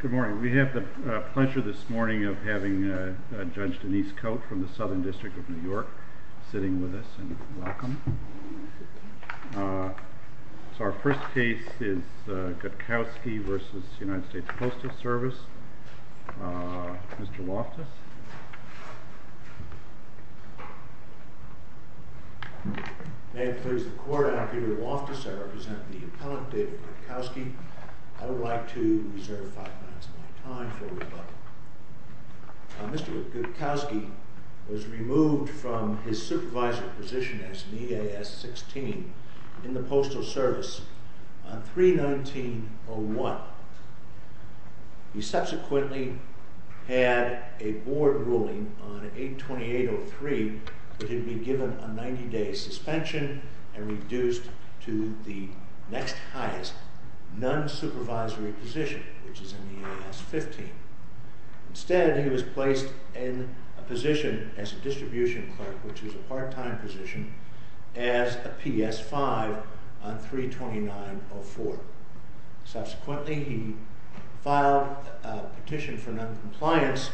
Good morning. We have the pleasure this morning of having Judge Denise Coate from the Southern District of New York sitting with us, and welcome. So our first case is Gutkowski v. United States Postal Service. Mr. Loftus. May it please the Court, I am Peter Loftus. I represent the appellant David Gutkowski. I would like to reserve five minutes of my time for rebuttal. Mr. Gutkowski was removed from his supervisory position as an EAS 16 in the Postal Service on 3-19-01. He subsequently had a board ruling on 8-28-03 that he'd be given a 90-day suspension and reduced to the next highest, non-supervisory position, which is an EAS 15. Instead, he was placed in a position as a distribution clerk, which is a part-time position, as a PS 5 on 3-29-04. Subsequently, he filed a petition for non-compliance,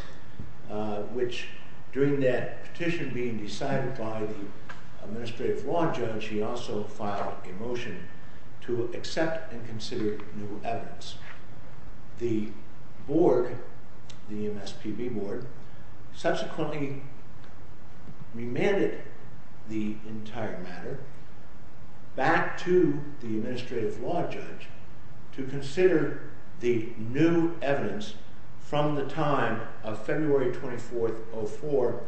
which during that petition being decided by the Administrative Law Judge, he also filed a motion to accept and consider new evidence. The board, the MSPB board, subsequently remanded the entire matter back to the Administrative Law Judge to consider the new evidence from the time of February 24-04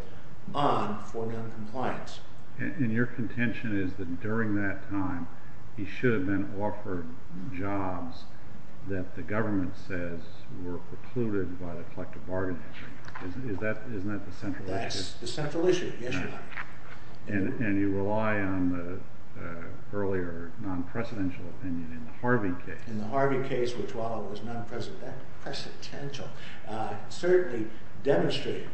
on for non-compliance. And your contention is that during that time, he should have been offered jobs that the government says were precluded by the collective bargaining agreement. Isn't that the central issue? That's the central issue, yes, Your Honor. And you rely on the earlier non-precedential opinion in the Harvey case. In the Harvey case, which while it was non-precedential, certainly demonstrated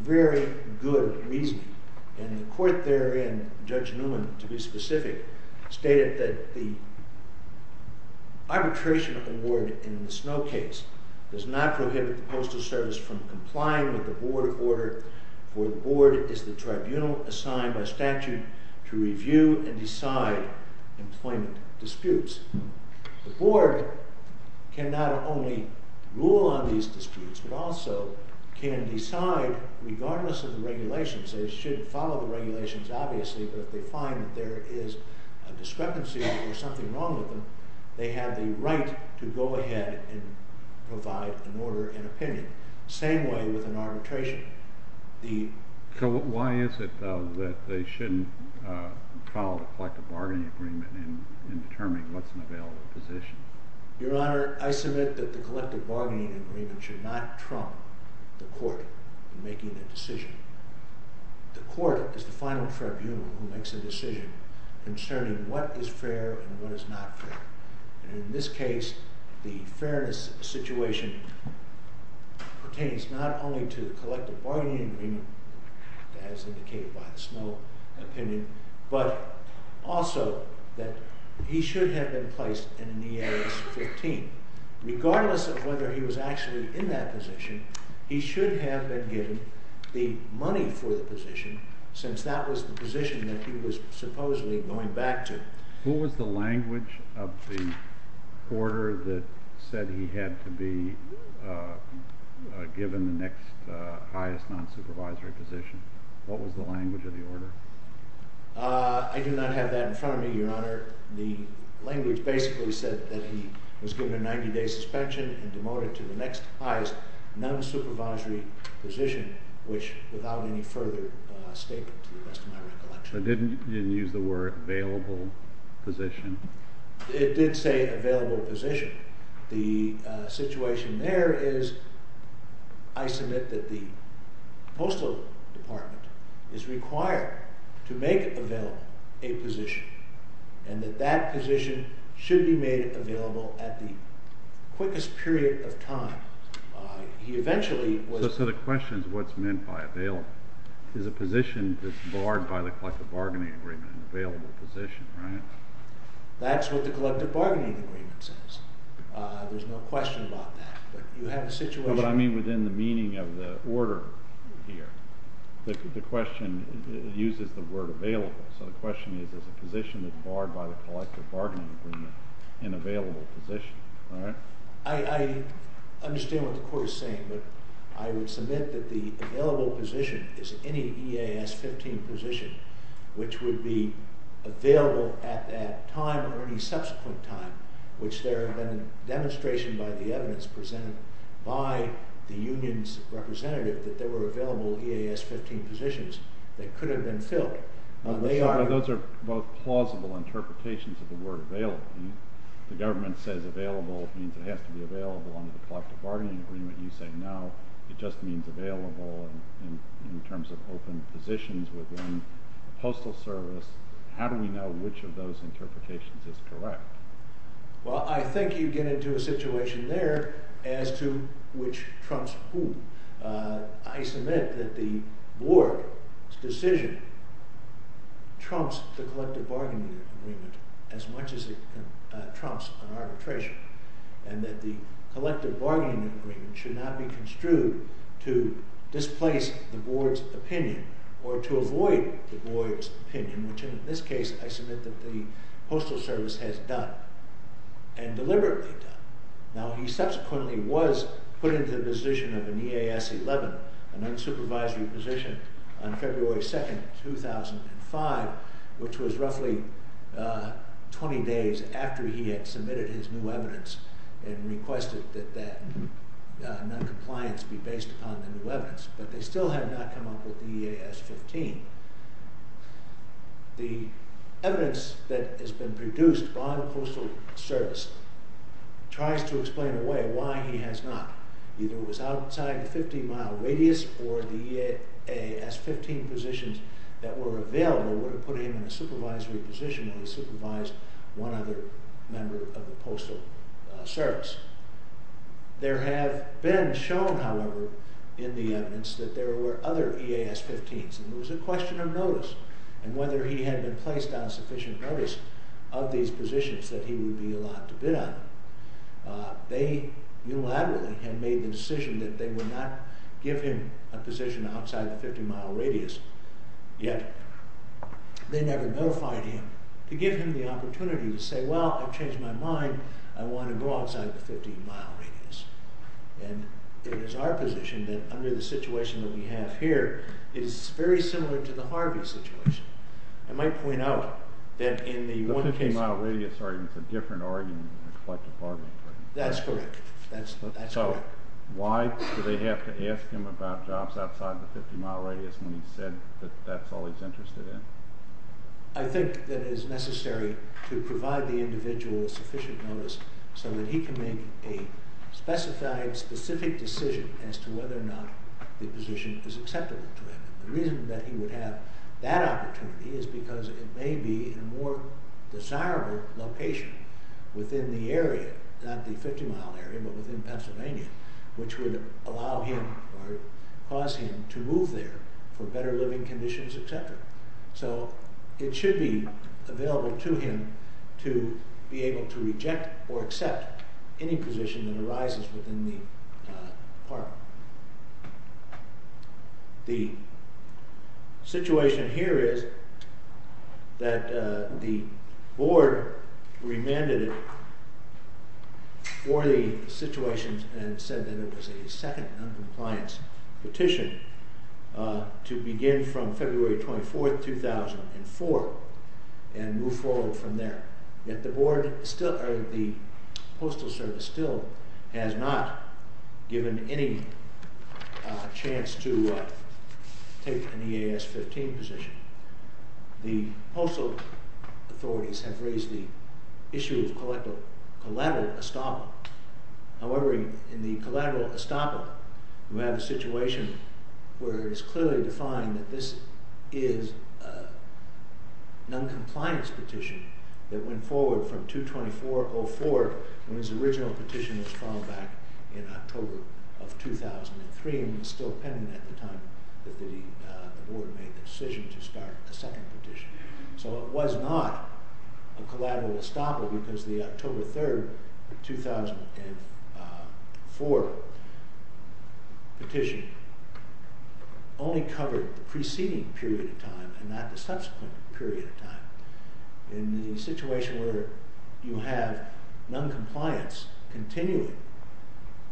very good reasoning. And the court therein, Judge Newman to be specific, stated that the arbitration award in the Snow case does not prohibit the Postal Service from complying with the board order, for the board is the tribunal assigned by statute to review and decide employment disputes. The board can not only rule on these disputes, but also can decide regardless of the regulations. They should follow the regulations obviously, but if they find that there is a discrepancy or something wrong with them, they have the right to go ahead and provide an order and opinion. Same way with an arbitration. So why is it, though, that they shouldn't follow the collective bargaining agreement in determining what's an available position? Your Honor, I submit that the collective bargaining agreement should not trump the court in making a decision. The court is the final tribunal who makes a decision concerning what is fair and what is not fair. And in this case, the fairness situation pertains not only to the collective bargaining agreement, as indicated by the Snow opinion, but also that he should have been placed in an EAS 15. Regardless of whether he was actually in that position, he should have been given the money for the position, since that was the position that he was supposedly going back to. Who was the language of the order that said he had to be given the next highest non-supervisory position? What was the language of the order? I do not have that in front of me, Your Honor. The language basically said that he was given a 90-day suspension and demoted to the next highest non-supervisory position, which without any further statement, to the best of my recollection. So it didn't use the word available position? It did say available position. The situation there is, I submit that the Postal Department is required to make available a position, and that that position should be made available at the quickest period of time. So the question is what's meant by available. Is a position that's barred by the collective bargaining agreement an available position, right? That's what the collective bargaining agreement says. There's no question about that. No, but I mean within the meaning of the order here. The question uses the word available. So the question is, is a position that's barred by the collective bargaining agreement an available position, right? I understand what the Court is saying, but I would submit that the available position is any EAS 15 position which would be available at that time or any subsequent time, which there have been demonstrations by the evidence presented by the union's representative that there were available EAS 15 positions that could have been filled. Those are both plausible interpretations of the word available. The government says available means it has to be available under the collective bargaining agreement. You say no, it just means available in terms of open positions within the Postal Service. How do we know which of those interpretations is correct? Well, I think you get into a situation there as to which trumps who. I submit that the Board's decision trumps the collective bargaining agreement as much as it trumps an arbitration and that the collective bargaining agreement should not be construed to displace the Board's opinion or to avoid the Board's opinion, which in this case I submit that the Postal Service has done. And deliberately done. Now he subsequently was put into the position of an EAS 11, an unsupervised position, on February 2nd, 2005, which was roughly 20 days after he had submitted his new evidence and requested that noncompliance be based upon the new evidence, but they still had not come up with EAS 15. The evidence that has been produced by the Postal Service tries to explain away why he has not. Either it was outside the 50 mile radius or the EAS 15 positions that were available would have put him in a supervisory position where he supervised one other member of the Postal Service. There have been shown, however, in the evidence that there were other EAS 15s and it was a question of notice and whether he had been placed on sufficient notice of these positions that he would be allowed to bid on. They unilaterally had made the decision that they would not give him a position outside the 50 mile radius, yet they never notified him to give him the opportunity to say, well, I've changed my mind, I want to go outside the 50 mile radius. And it is our position that under the situation that we have here, it is very similar to the Harvey situation. I might point out that in the one case... The 50 mile radius argument is a different argument than the collective bargaining. That's correct, that's correct. So why do they have to ask him about jobs outside the 50 mile radius when he said that that's all he's interested in? I think that it is necessary to provide the individual with sufficient notice so that he can make a specified, specific decision as to whether or not the position is acceptable to him. The reason that he would have that opportunity is because it may be in a more desirable location within the area, not the 50 mile area, but within Pennsylvania, which would allow him or cause him to move there for better living conditions, etc. So it should be available to him to be able to reject or accept any position that arises within the park. The situation here is that the board remanded it for the situation and said that it was a second non-compliance petition to begin from February 24, 2004 and move forward from there. Yet the postal service still has not given any chance to take an EAS 15 position. The postal authorities have raised the issue of collateral estoppel. However, in the collateral estoppel, we have a situation where it is clearly defined that this is a non-compliance petition that went forward from 2-24-04 when his original petition was filed back in October of 2003. It was still pending at the time that the board made the decision to start a second petition. So it was not a collateral estoppel because the October 3, 2004 petition only covered the preceding period of time and not the subsequent period of time. In the situation where you have non-compliance continuing,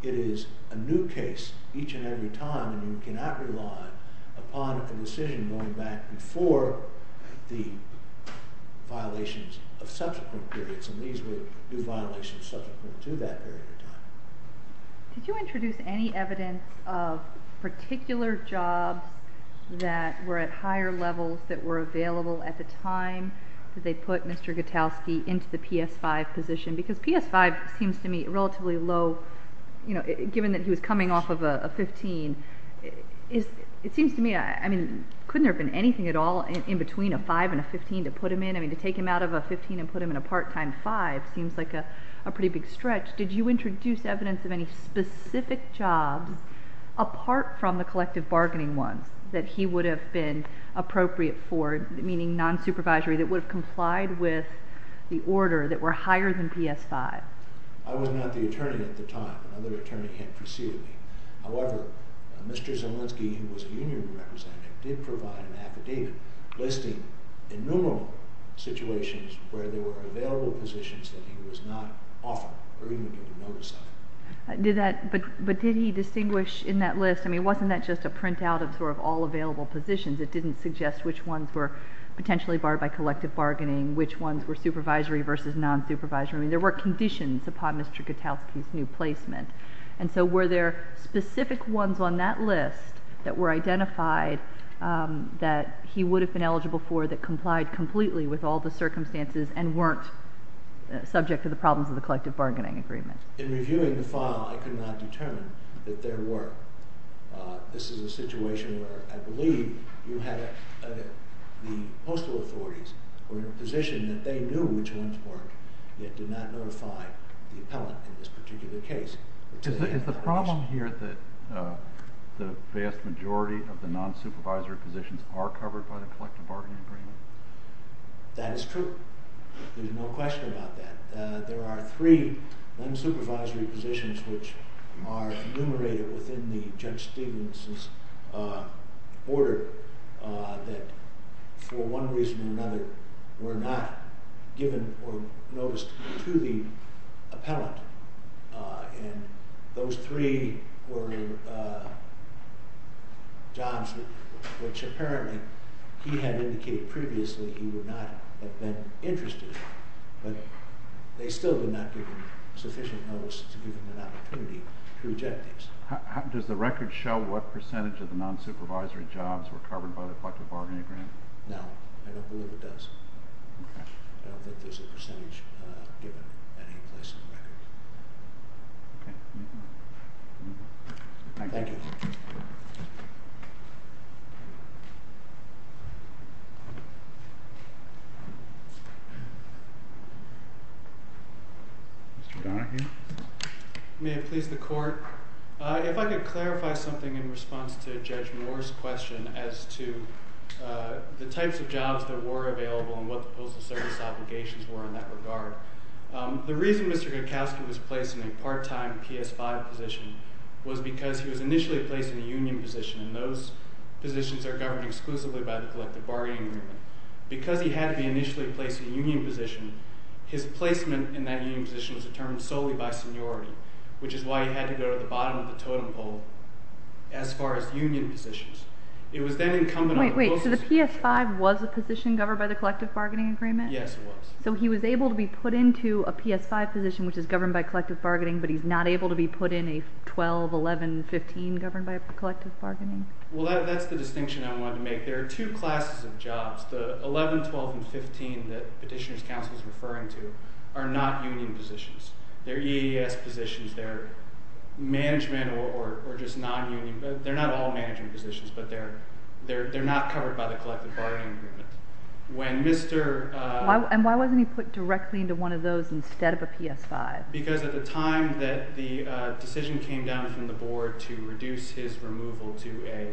it is a new case each and every time and you cannot rely upon a decision going back before the violations of subsequent periods. And these were new violations subsequent to that period of time. Did you introduce any evidence of particular jobs that were at higher levels that were available at the time that they put Mr. Gutowski into the PS-5 position? Because PS-5 seems to me relatively low, you know, given that he was coming off of a 15. It seems to me, I mean, couldn't there have been anything at all in between a 5 and a 15 to put him in? I mean, to take him out of a 15 and put him in a part-time 5 seems like a pretty big stretch. Did you introduce evidence of any specific jobs apart from the collective bargaining ones that he would have been appropriate for, meaning non-supervisory, that would have complied with the order that were higher than PS-5? I was not the attorney at the time. Another attorney had preceded me. However, Mr. Zielinski, who was a union representative, did provide an affidavit listing innumerable situations where there were available positions that he was not offered or even given notice of. But did he distinguish in that list, I mean, wasn't that just a printout of sort of all available positions? It didn't suggest which ones were potentially barred by collective bargaining, which ones were supervisory versus non-supervisory. I mean, there were conditions upon Mr. Gutowski's new placement. And so were there specific ones on that list that were identified that he would have been eligible for that complied completely with all the circumstances and weren't subject to the problems of the collective bargaining agreement? In reviewing the file, I could not determine that there were. This is a situation where I believe the postal authorities were in a position that they knew which ones weren't, yet did not notify the appellant in this particular case. Is the problem here that the vast majority of the non-supervisory positions are covered by the collective bargaining agreement? That is true. There's no question about that. There are three non-supervisory positions which are enumerated within the Judge Stevens' order that, for one reason or another, were not given or noticed to the appellant. And those three were jobs which apparently he had indicated previously he would not have been interested in, but they still did not give him sufficient notice to give him an opportunity to reject these. Does the record show what percentage of the non-supervisory jobs were covered by the collective bargaining agreement? No, I don't believe it does. I don't think there's a percentage given any place on the record. Thank you. Mr. Donahue? May it please the Court? If I could clarify something in response to Judge Moore's question as to the types of jobs that were available and what the postal service obligations were in that regard. The reason Mr. Gutkowski was placed in a part-time PS-5 position was because he was initially placed in a union position, and those positions are governed exclusively by the collective bargaining agreement. Because he had to be initially placed in a union position, his placement in that union position was determined solely by seniority, which is why he had to go to the bottom of the totem pole as far as union positions. It was then incumbent on the postal service… Wait, so the PS-5 was a position governed by the collective bargaining agreement? Yes, it was. So he was able to be put into a PS-5 position which is governed by collective bargaining, but he's not able to be put in a 12, 11, 15 governed by collective bargaining? Well, that's the distinction I wanted to make. There are two classes of jobs. The 11, 12, and 15 that Petitioner's Counsel is referring to are not union positions. They're EAS positions. They're management or just non-union. They're not all management positions, but they're not covered by the collective bargaining agreement. And why wasn't he put directly into one of those instead of a PS-5? Because at the time that the decision came down from the board to reduce his removal to a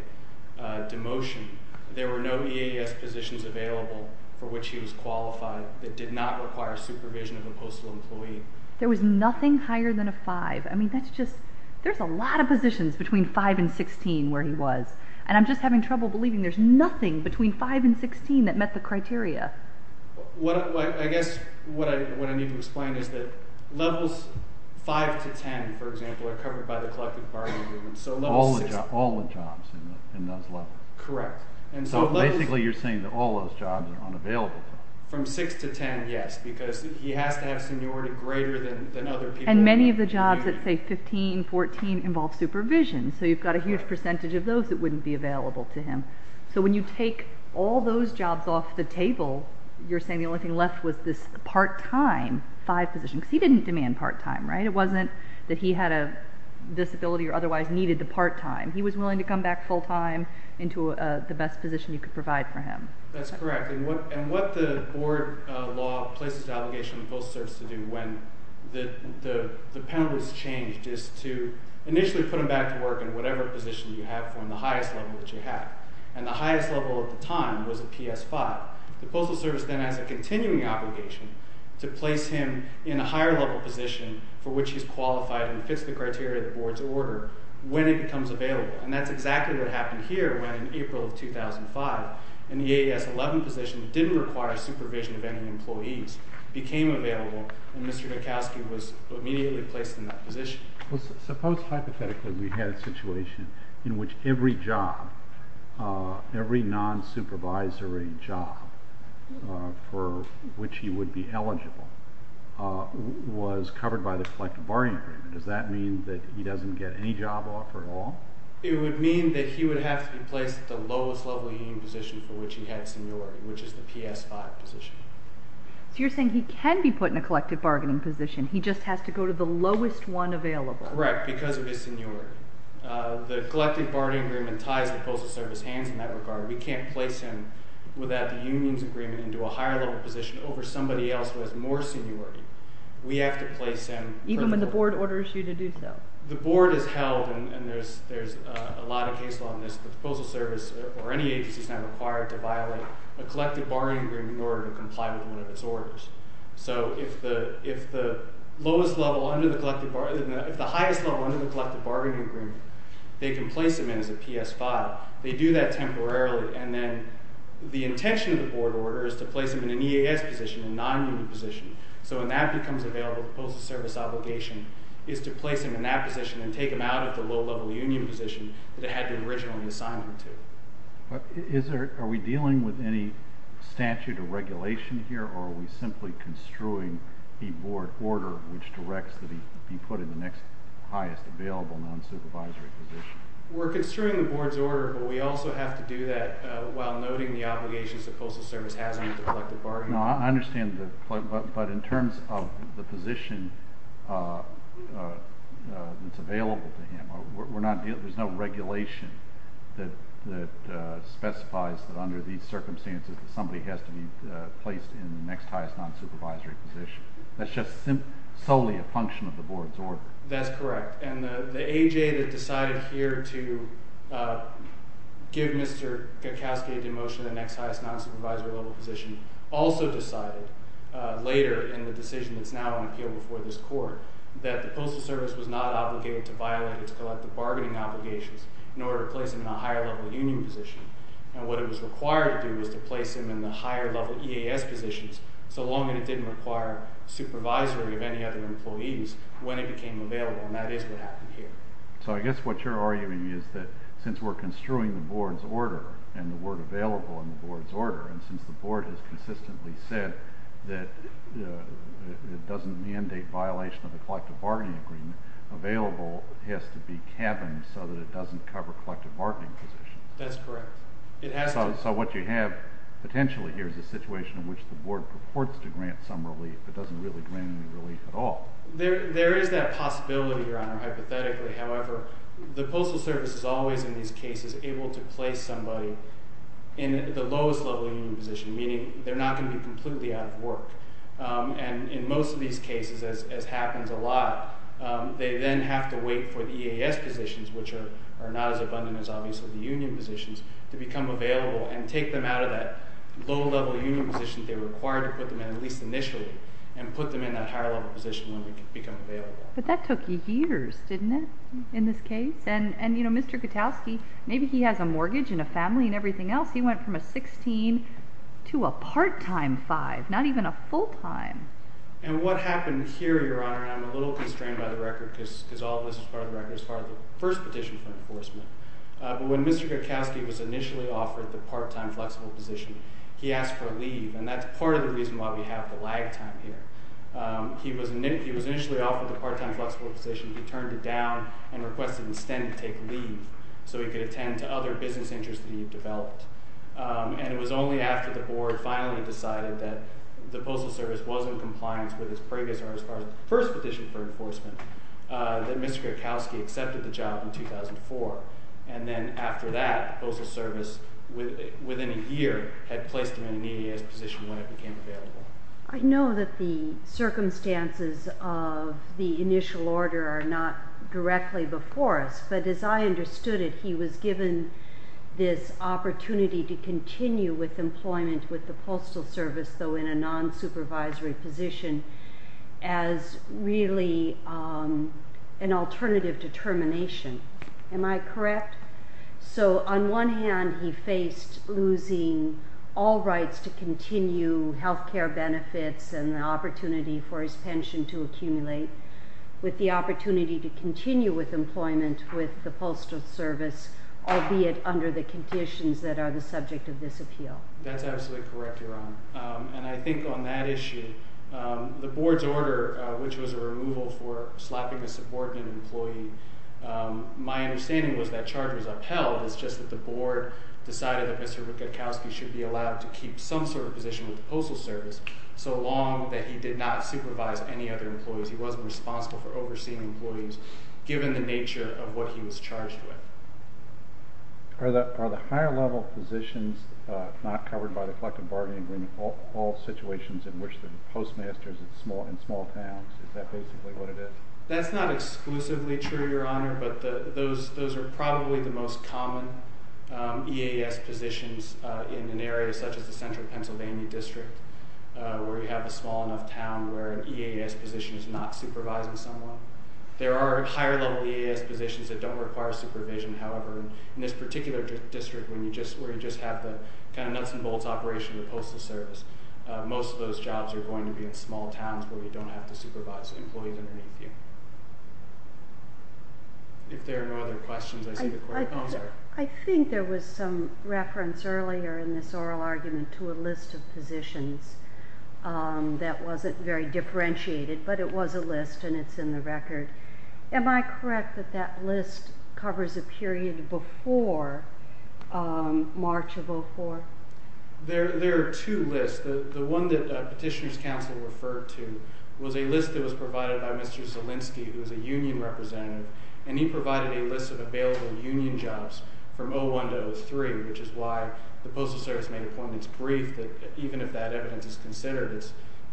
demotion, there were no EAS positions available for which he was qualified that did not require supervision of a postal employee. There was nothing higher than a 5. I mean, that's just… there's a lot of positions between 5 and 16 where he was, and I'm just having trouble believing there's nothing between 5 and 16 that met the criteria. I guess what I need to explain is that levels 5 to 10, for example, are covered by the collective bargaining agreement. All the jobs in those levels? Correct. So basically you're saying that all those jobs are unavailable to him? From 6 to 10, yes, because he has to have seniority greater than other people. And many of the jobs that say 15, 14 involve supervision, so you've got a huge percentage of those that wouldn't be available to him. So when you take all those jobs off the table, you're saying the only thing left was this part-time 5 position, because he didn't demand part-time, right? It wasn't that he had a disability or otherwise needed the part-time. He was willing to come back full-time into the best position you could provide for him. That's correct. And what the board law places the obligation on the Postal Service to do when the penalties change is to initially put him back to work in whatever position you have for him, the highest level that you have. And the highest level at the time was a PS5. The Postal Service then has a continuing obligation to place him in a higher-level position for which he's qualified and fits the criteria of the board's order when it becomes available. And that's exactly what happened here when, in April of 2005, an EAS11 position that didn't require supervision of any employees became available, and Mr. Gokowsky was immediately placed in that position. Suppose hypothetically we had a situation in which every job, every non-supervisory job for which he would be eligible was covered by the Collective Bargaining Agreement. Does that mean that he doesn't get any job offer at all? It would mean that he would have to be placed at the lowest-level union position for which he had seniority, which is the PS5 position. So you're saying he can be put in a collective bargaining position, he just has to go to the lowest one available. Correct, because of his seniority. The Collective Bargaining Agreement ties the Postal Service hands in that regard. We can't place him without the union's agreement into a higher-level position over somebody else who has more seniority. We have to place him... Even when the board orders you to do so. The board is held, and there's a lot of case law in this, the Postal Service or any agency is now required to violate a Collective Bargaining Agreement in order to comply with one of its orders. So if the highest level under the Collective Bargaining Agreement, they can place him in as a PS5. They do that temporarily, and then the intention of the board order is to place him in an EAS position, a non-union position. So when that becomes available, the Postal Service obligation is to place him in that position and take him out of the low-level union position that it had originally assigned him to. Are we dealing with any statute or regulation here, or are we simply construing a board order which directs that he be put in the next highest available non-supervisory position? We're construing the board's order, but we also have to do that while noting the obligations the Postal Service has under the Collective Bargaining Agreement. I understand, but in terms of the position that's available to him, there's no regulation that specifies that under these circumstances that somebody has to be placed in the next highest non-supervisory position. That's just solely a function of the board's order. That's correct, and the AJ that decided here to give Mr. Gakowsky a demotion to the next highest non-supervisory level position also decided later in the decision that's now on appeal before this court that the Postal Service was not obligated to violate its collective bargaining obligations in order to place him in a higher-level union position. And what it was required to do was to place him in the higher-level EAS positions so long as it didn't require supervisory of any other employees when it became available, and that is what happened here. So I guess what you're arguing is that since we're construing the board's order and the word available in the board's order, and since the board has consistently said that it doesn't mandate violation of the Collective Bargaining Agreement, available has to be cabined so that it doesn't cover collective bargaining positions. That's correct. So what you have potentially here is a situation in which the board purports to grant some relief but doesn't really grant any relief at all. There is that possibility, Your Honor, hypothetically. However, the Postal Service is always in these cases able to place somebody in the lowest-level union position, meaning they're not going to be completely out of work. And in most of these cases, as happens a lot, they then have to wait for the EAS positions, which are not as abundant as obviously the union positions, to become available and take them out of that low-level union position they were required to put them in at least initially and put them in that higher-level position when they become available. But that took years, didn't it, in this case? And, you know, Mr. Gutowski, maybe he has a mortgage and a family and everything else. He went from a 16 to a part-time 5, not even a full-time. And what happened here, Your Honor, and I'm a little constrained by the record because all of this is part of the record, is part of the first petition for enforcement. But when Mr. Gutkowski was initially offered the part-time flexible position, he asked for a leave, and that's part of the reason why we have the lag time here. He was initially offered the part-time flexible position. He turned it down and requested instead to take leave so he could attend to other business interests that he had developed. And it was only after the board finally decided that the Postal Service was in compliance with its previous or its first petition for enforcement that Mr. Gutkowski accepted the job in 2004. And then after that, the Postal Service, within a year, had placed him in an EAS position when it became available. I know that the circumstances of the initial order are not directly before us, but as I understood it, he was given this opportunity to continue with employment with the Postal Service, though in a non-supervisory position, as really an alternative determination. Am I correct? So on one hand, he faced losing all rights to continue health care benefits and the opportunity for his pension to accumulate, with the opportunity to continue with employment with the Postal Service, albeit under the conditions that are the subject of this appeal. That's absolutely correct, Your Honor. And I think on that issue, the board's order, which was a removal for slapping a subordinate employee, my understanding was that charge was upheld. It's just that the board decided that Mr. Gutkowski should be allowed to keep some sort of position with the Postal Service, so long that he did not supervise any other employees. He wasn't responsible for overseeing employees, given the nature of what he was charged with. Are the higher-level positions not covered by the collective bargaining agreement all situations in which the postmaster is in small towns? Is that basically what it is? That's not exclusively true, Your Honor, but those are probably the most common EAS positions in an area such as the Central Pennsylvania District, where you have a small enough town where an EAS position is not supervising someone. There are higher-level EAS positions that don't require supervision, however. In this particular district, where you just have the kind of nuts-and-bolts operation of the Postal Service, most of those jobs are going to be in small towns where you don't have to supervise employees underneath you. If there are no other questions, I see the clerk. Oh, I'm sorry. I think there was some reference earlier in this oral argument to a list of positions that wasn't very differentiated, but it was a list and it's in the record. Am I correct that that list covers a period before March of 2004? There are two lists. The one that Petitioner's Counsel referred to was a list that was provided by Mr. Zielinski, who was a union representative, and he provided a list of available union jobs from 2001 to 2003, which is why the Postal Service made appointments briefed. Even if that evidence is considered,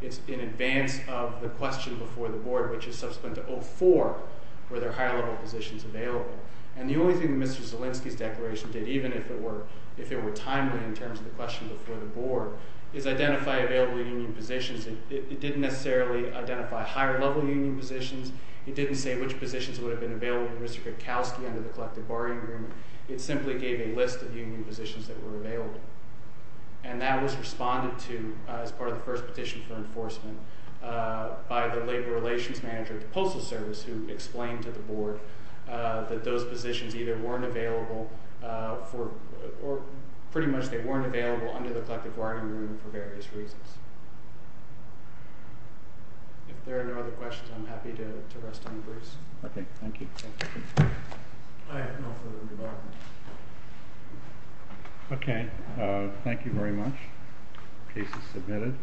it's in advance of the question before the Board, which is subsequent to 2004, were there higher-level positions available? And the only thing that Mr. Zielinski's declaration did, even if it were timely in terms of the question before the Board, is identify available union positions. It didn't necessarily identify higher-level union positions. It didn't say which positions would have been available to Mr. Krakowski under the Collective Borrowing Agreement. It simply gave a list of union positions that were available. And that was responded to as part of the first petition for enforcement by the Labor Relations Manager at the Postal Service, who explained to the Board that those positions either weren't available for, or pretty much they weren't available under the Collective Borrowing Agreement for various reasons. If there are no other questions, I'm happy to rest on Bruce. Okay, thank you. I have no further remarks. Okay, thank you very much. Case is submitted.